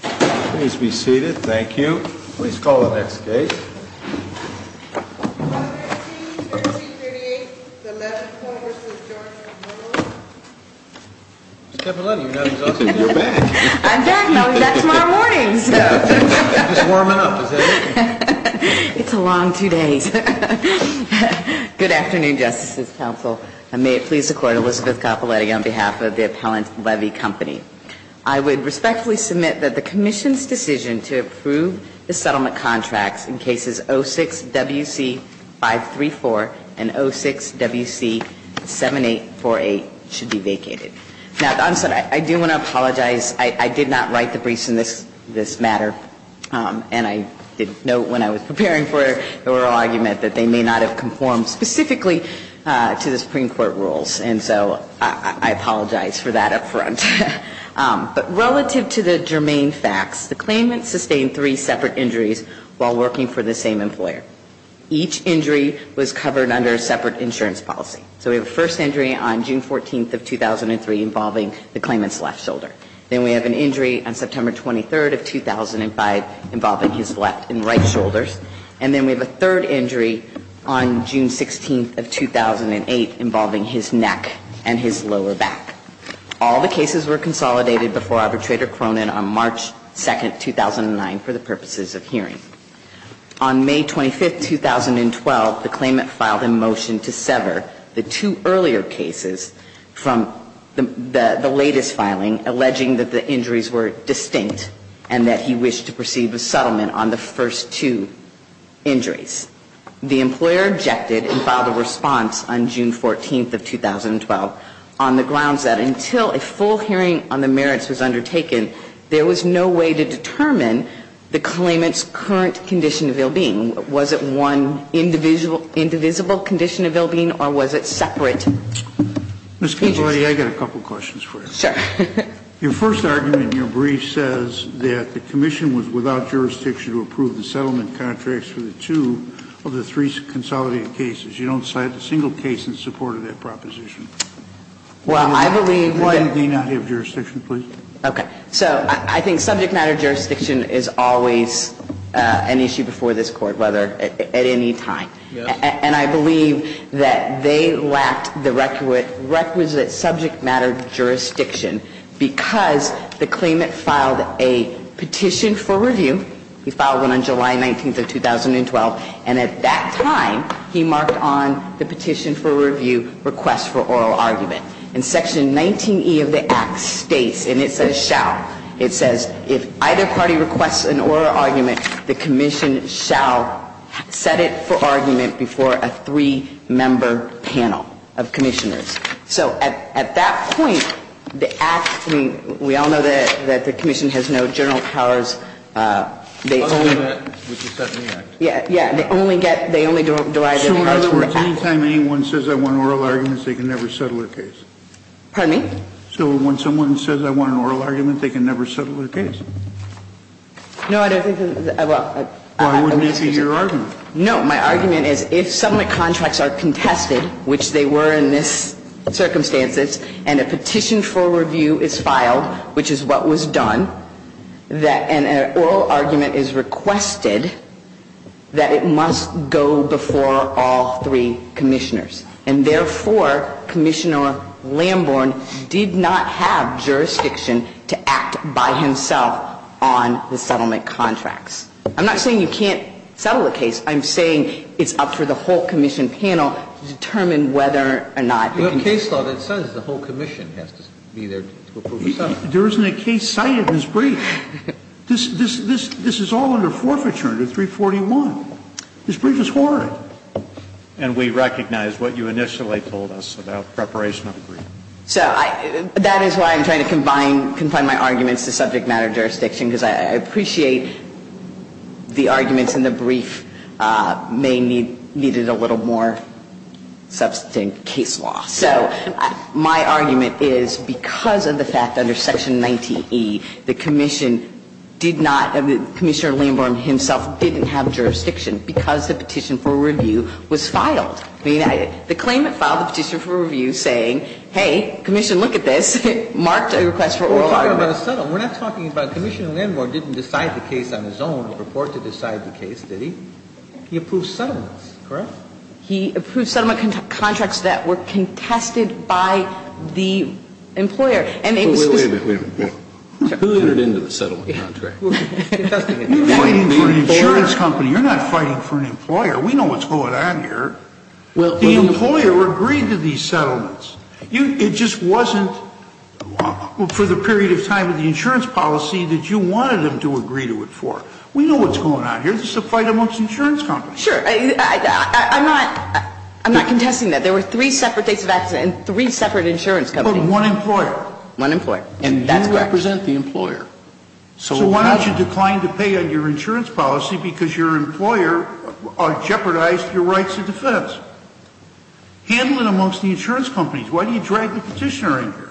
Please be seated. Thank you. Please call the next case. 11338, the Levy Co. v. George & Miller. Ms. Cappelletti, you're not exhausted. You're back. I'm back. Now we've got tomorrow morning's. Just warming up. Is that it? It's a long two days. Good afternoon, Justices Council. May it please the Court, Elizabeth Cappelletti on behalf of the Appellant Levy Company. I would respectfully submit that the Commission's decision to approve the settlement contracts in cases 06-WC-534 and 06-WC-7848 should be vacated. Now, I do want to apologize. I did not write the briefs in this matter. And I did note when I was preparing for the oral argument that they may not have conformed specifically to the Supreme Court rules. And so I apologize for that up front. But relative to the germane facts, the claimant sustained three separate injuries while working for the same employer. Each injury was covered under a separate insurance policy. So we have a first injury on June 14th of 2003 involving the claimant's left shoulder. Then we have an injury on September 23rd of 2005 involving his left and right shoulders. And then we have a third injury on June 16th of 2008 involving his neck and his lower back. All the cases were consolidated before Arbitrator Cronin on March 2nd, 2009, for the purposes of hearing. On May 25th, 2012, the claimant filed a motion to sever the two earlier cases from the latest filing, alleging that the injuries were distinct and that he wished to proceed with settlement on the first two injuries. The employer objected and filed a response on June 14th of 2012 on the grounds that until a full hearing on the merits was undertaken, there was no way to determine the claimant's current condition of ill-being. Was it one indivisible condition of ill-being, or was it separate? Ms. Capilotti, I've got a couple of questions for you. Sure. Your first argument in your brief says that the Commission was without jurisdiction to approve the settlement contracts for the two of the three consolidated cases. You don't cite a single case in support of that proposition. Well, I believe that they did not have jurisdiction. Okay. So I think subject matter jurisdiction is always an issue before this Court, whether at any time. Yes. And I believe that they lacked the requisite subject matter jurisdiction because the claimant filed a petition for review. He filed one on July 19th of 2012, and at that time he marked on the petition for review, request for oral argument. And Section 19E of the Act states, and it says shall, it says if either party requests an oral argument, the Commission shall set it for argument before a three-member panel of Commissioners. So at that point, the Act, I mean, we all know that the Commission has no general powers. They only get, they only derive their powers from the Act. So at any time anyone says I want an oral argument, they can never settle a case? Pardon me? So when someone says I want an oral argument, they can never settle a case? No, I don't think that's a, well. Well, I wouldn't answer your argument. No. My argument is if some of the contracts are contested, which they were in this circumstances, and a petition for review is filed, which is what was done, that an oral argument is requested, that it must go before all three Commissioners. And therefore, Commissioner Lamborn did not have jurisdiction to act by himself on the settlement contracts. I'm not saying you can't settle a case. I'm saying it's up for the whole Commission panel to determine whether or not. In case law, it says the whole Commission has to be there to approve the settlement. There isn't a case cited in this brief. This is all under forfeiture under 341. This brief is horrid. And we recognize what you initially told us about preparation of the brief. So that is why I'm trying to combine my arguments to subject matter jurisdiction, because I appreciate the arguments in the brief may need a little more substantive case law. So my argument is because of the fact that under Section 90E, the Commission did not, Commissioner Lamborn himself didn't have jurisdiction because the petition for review was filed. The claimant filed the petition for review saying, hey, Commission, look at this, marked a request for oral argument. We're talking about a settlement. We're not talking about Commissioner Lamborn didn't decide the case on his own or purport to decide the case, did he? He approved settlements, correct? He approved settlement contracts that were contested by the employer. And it was just the employer. Wait a minute, wait a minute. Who entered into the settlement contract? You're fighting for an insurance company. You're not fighting for an employer. We know what's going on here. The employer agreed to these settlements. It just wasn't for the period of time of the insurance policy that you wanted them to agree to it for. We know what's going on here. This is a fight amongst insurance companies. Sure. I'm not contesting that. There were three separate dates of accident and three separate insurance companies. But one employer. One employer. And that's correct. You represent the employer. So why don't you decline to pay on your insurance policy because your employer jeopardized your rights of defense? Handle it amongst the insurance companies. Why do you drag the Petitioner in here?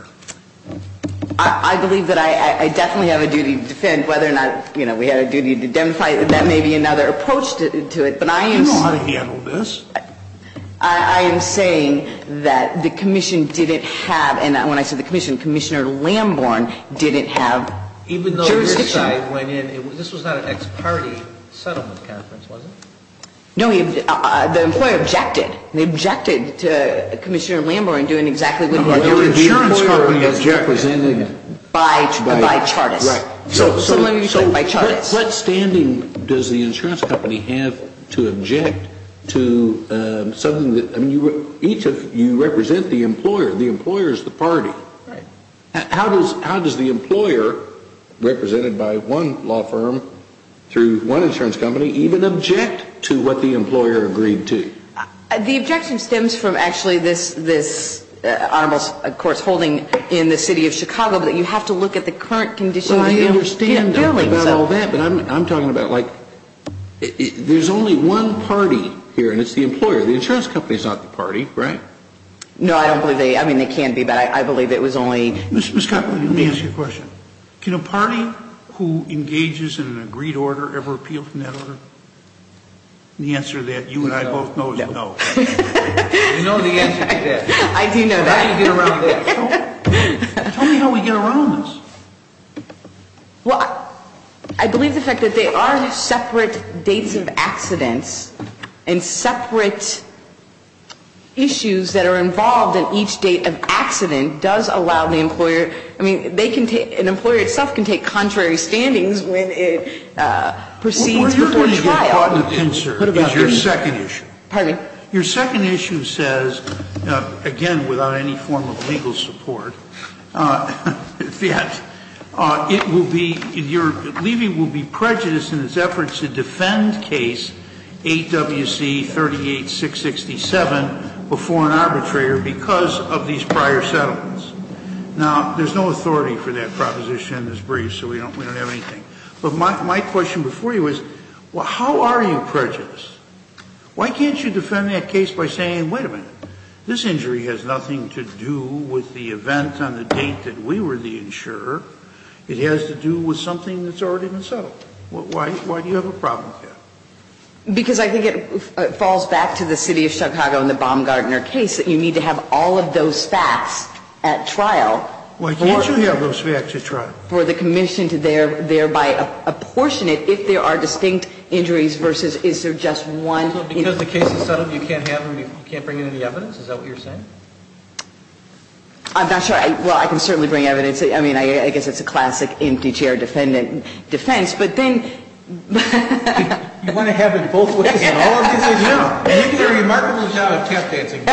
I believe that I definitely have a duty to defend whether or not, you know, we had a duty to demonstrate that that may be another approach to it. But I am saying. You know how to handle this. I am saying that the commission didn't have, and when I say the commission, Commissioner Lamborn didn't have jurisdiction. Even though your side went in, this was not an ex-party settlement conference, was it? No. The employer objected. They objected to Commissioner Lamborn doing exactly what he wanted to do. The insurance company was represented. By Chartist. Right. So let me just say. By Chartist. What standing does the insurance company have to object to something that, I mean, each of you represent the employer. The employer is the party. Right. How does the employer, represented by one law firm through one insurance company, even object to what the employer agreed to? The objection stems from actually this honorable course holding in the city of Chicago, but you have to look at the current conditions. Well, we understand about all that, but I'm talking about, like, there's only one party here, and it's the employer. The insurance company is not the party, right? No, I don't believe they. I mean, they can be, but I believe it was only. Ms. Copeland, let me ask you a question. Can a party who engages in an agreed order ever appeal from that order? The answer to that, you and I both know, is no. You know the answer to that. I do know that. How do you get around that? Tell me how we get around this. Well, I believe the fact that there are separate dates of accidents and separate issues that are involved in each date of accident does allow the employer to, I mean, they can take, an employer itself can take contrary standings when it proceeds before trial. What you're going to get caught in a pincer is your second issue. Pardon me? Your second issue says, again, without any form of legal support, that it will be, your leaving will be prejudiced in its efforts to defend case 8WC38667 before an arbitrator because of these prior settlements. Now, there's no authority for that proposition in this brief, so we don't have anything. But my question before you is, how are you prejudiced? Why can't you defend that case by saying, wait a minute, this injury has nothing to do with the event on the date that we were the insurer. It has to do with something that's already been settled. Why do you have a problem with that? Because I think it falls back to the City of Chicago and the Baumgartner case that you need to have all of those facts at trial. Why can't you have those facts at trial? For the commission to thereby apportion it if there are distinct injuries versus, is there just one? So because the case is settled, you can't have any, you can't bring in any evidence? Is that what you're saying? I'm not sure. Well, I can certainly bring evidence. I mean, I guess it's a classic empty chair defendant defense. But then... You want to have it both ways in all of these issues? You did a remarkable job of tap dancing.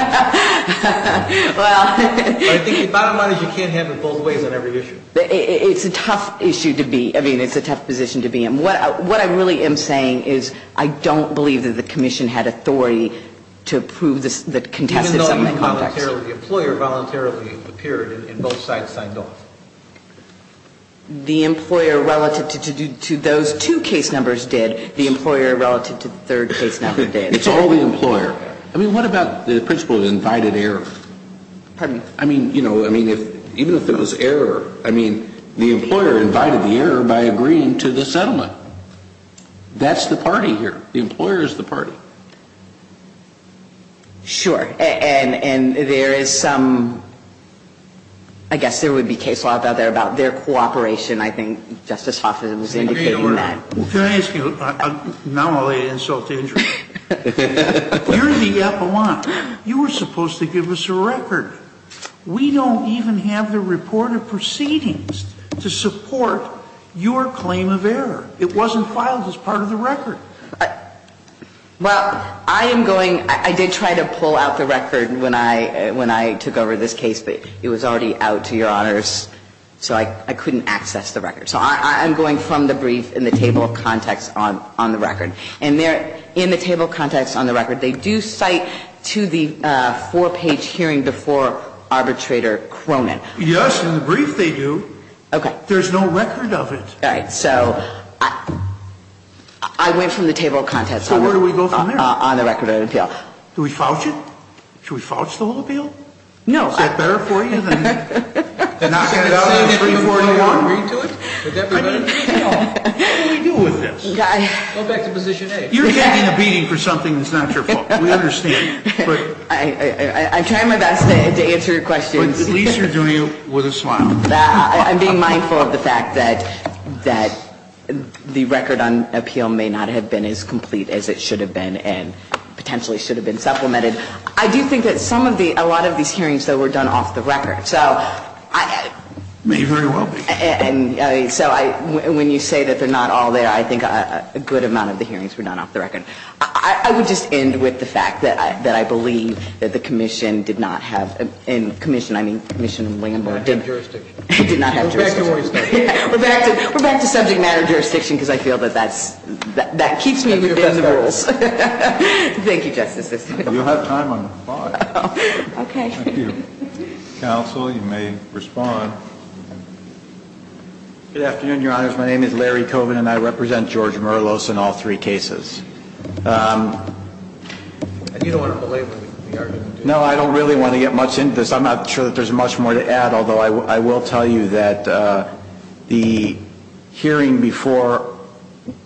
Well... I think the bottom line is you can't have it both ways on every issue. It's a tough issue to be, I mean, it's a tough position to be in. What I really am saying is I don't believe that the commission had authority to approve the contested settlement context. The employer voluntarily appeared and both sides signed off. The employer relative to those two case numbers did. The employer relative to the third case number did. It's all the employer. I mean, what about the principle of invited error? Pardon? I mean, you know, I mean, even if it was error, I mean, the employer invited the error by agreeing to the settlement. That's the party here. The employer is the party. Sure. And there is some, I guess there would be case law out there about their cooperation. I think Justice Hoffman was indicating that. Can I ask you, not only an insult to injury, you're the epilogue. You were supposed to give us a record. We don't even have the report of proceedings to support your claim of error. It wasn't filed as part of the record. Well, I am going, I did try to pull out the record when I took over this case, but it was already out to your honors, so I couldn't access the record. So I'm going from the brief in the table of context on the record. In the table of context on the record, they do cite to the four-page hearing before arbitrator Cronin. Yes, in the brief they do. Okay. There's no record of it. All right. So I went from the table of context. So where do we go from there? On the record of appeal. Do we falch it? Should we falch the whole appeal? No. Is that better for you than knocking it out of the brief before you want to read to it? I mean, what do we do with this? Go back to position A. You're taking a beating for something that's not your fault. We understand. I'm trying my best to answer your questions. But at least you're doing it with a smile. I'm being mindful of the fact that the record on appeal may not have been as complete as it should have been and potentially should have been supplemented. I do think that some of the ñ a lot of these hearings, though, were done off the record. So I ñ May very well be. And so when you say that they're not all there, I think a good amount of the hearings were done off the record. I would just end with the fact that I believe that the Commission did not have ñ and I believe that the Commission did not have jurisdiction. We're back to subject matter jurisdiction because I feel that that's ñ that keeps me within the rules. Thank you, Justice. You'll have time on 5. Okay. Counsel, you may respond. Good afternoon, Your Honors. My name is Larry Coven, and I represent George Merlos in all three cases. And you don't want to belabor the argument, do you? No, I don't really want to get much into this. I'm not sure that there's much more to add, although I will tell you that the hearing before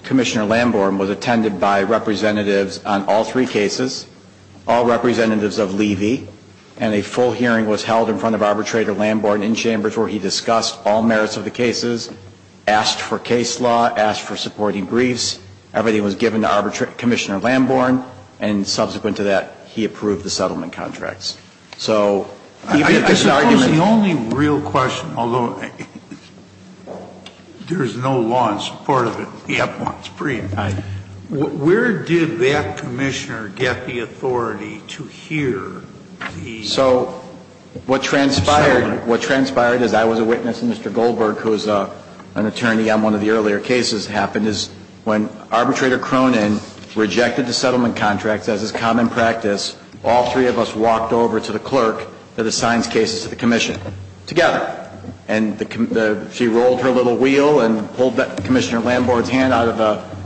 Commissioner Lamborn was attended by representatives on all three cases, all representatives of Levy. And a full hearing was held in front of Arbitrator Lamborn in Chambers where he discussed all merits of the cases, asked for case law, asked for supporting briefs. Everything was given to Arbitrator ñ Commissioner Lamborn. And subsequent to that, he approved the settlement contracts. So even if the argument ñ I guess the only real question, although there is no law in support of it ñ Yep. ñ brief, where did that commissioner get the authority to hear the ñ So what transpired ñ what transpired is I was a witness, and Mr. Goldberg, who is an attorney on one of the earlier cases, happened is when Arbitrator Cronin rejected the settlement contracts as is common practice, all three of us walked over to the clerk that assigns cases to the commission together. And she rolled her little wheel and pulled Commissioner Lamborn's hand out of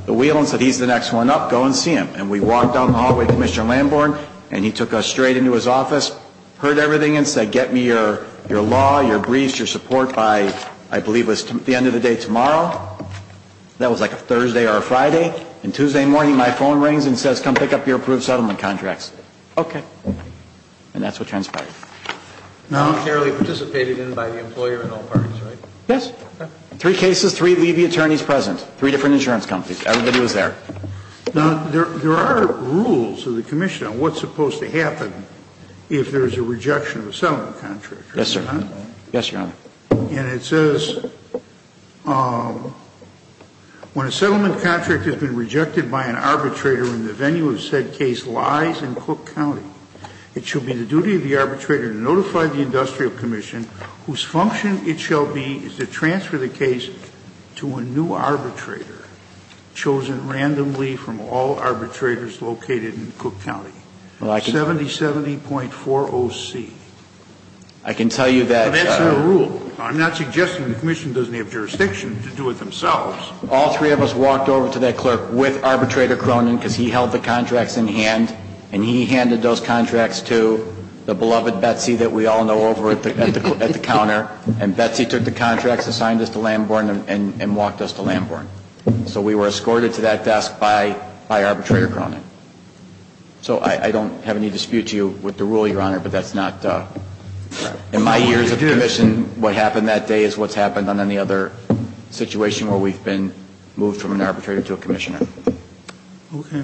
the wheel and said, he's the next one up, go and see him. And we walked down the hallway to Commissioner Lamborn, and he took us straight into his office, heard everything and said, get me your law, your briefs, your support by, I believe it was the end of the day tomorrow. That was like a Thursday or a Friday. And Tuesday morning, my phone rings and says, come pick up your approved settlement contracts. Okay. And that's what transpired. Now ñ You clearly participated in it by the employer and all parties, right? Yes. Okay. Three cases, three levy attorneys present, three different insurance companies. Everybody was there. Now, there are rules of the commission on what's supposed to happen if there's a rejection of a settlement contract. Yes, sir. Yes, Your Honor. And it says, when a settlement contract has been rejected by an arbitrator and the venue of said case lies in Cook County, it should be the duty of the arbitrator to notify the industrial commission whose function it shall be is to transfer the case to a new arbitrator chosen randomly from all arbitrators located in Cook County, 7070.40C. I can tell you that, Your Honor. That's the rule. I'm not suggesting the commission doesn't have jurisdiction to do it themselves. All three of us walked over to that clerk with Arbitrator Cronin because he held the contracts in hand, and he handed those contracts to the beloved Betsy that we all know over at the counter, and Betsy took the contracts and signed us to Lambourne and walked us to Lambourne. So we were escorted to that desk by Arbitrator Cronin. So I don't have any dispute to you with the rule, Your Honor, but that's not ñ In my years of commission, what happened that day is what's happened on any other situation where we've been moved from an arbitrator to a commissioner. Okay.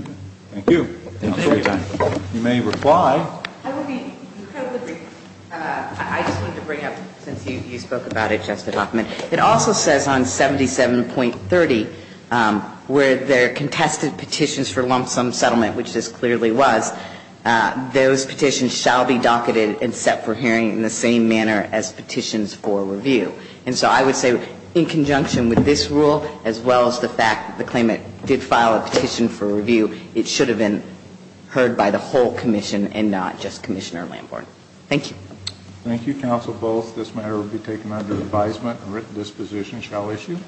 Thank you. Thank you. You may reply. I just wanted to bring up, since you spoke about it, Justice Hoffman, it also says on 77.30 where there are contested petitions for lump sum settlement, which this same manner as petitions for review. And so I would say in conjunction with this rule as well as the fact that the claimant did file a petition for review, it should have been heard by the whole commission and not just Commissioner Lambourne. Thank you. Thank you, counsel, both. This matter will be taken under advisement and written disposition. Shall we issue?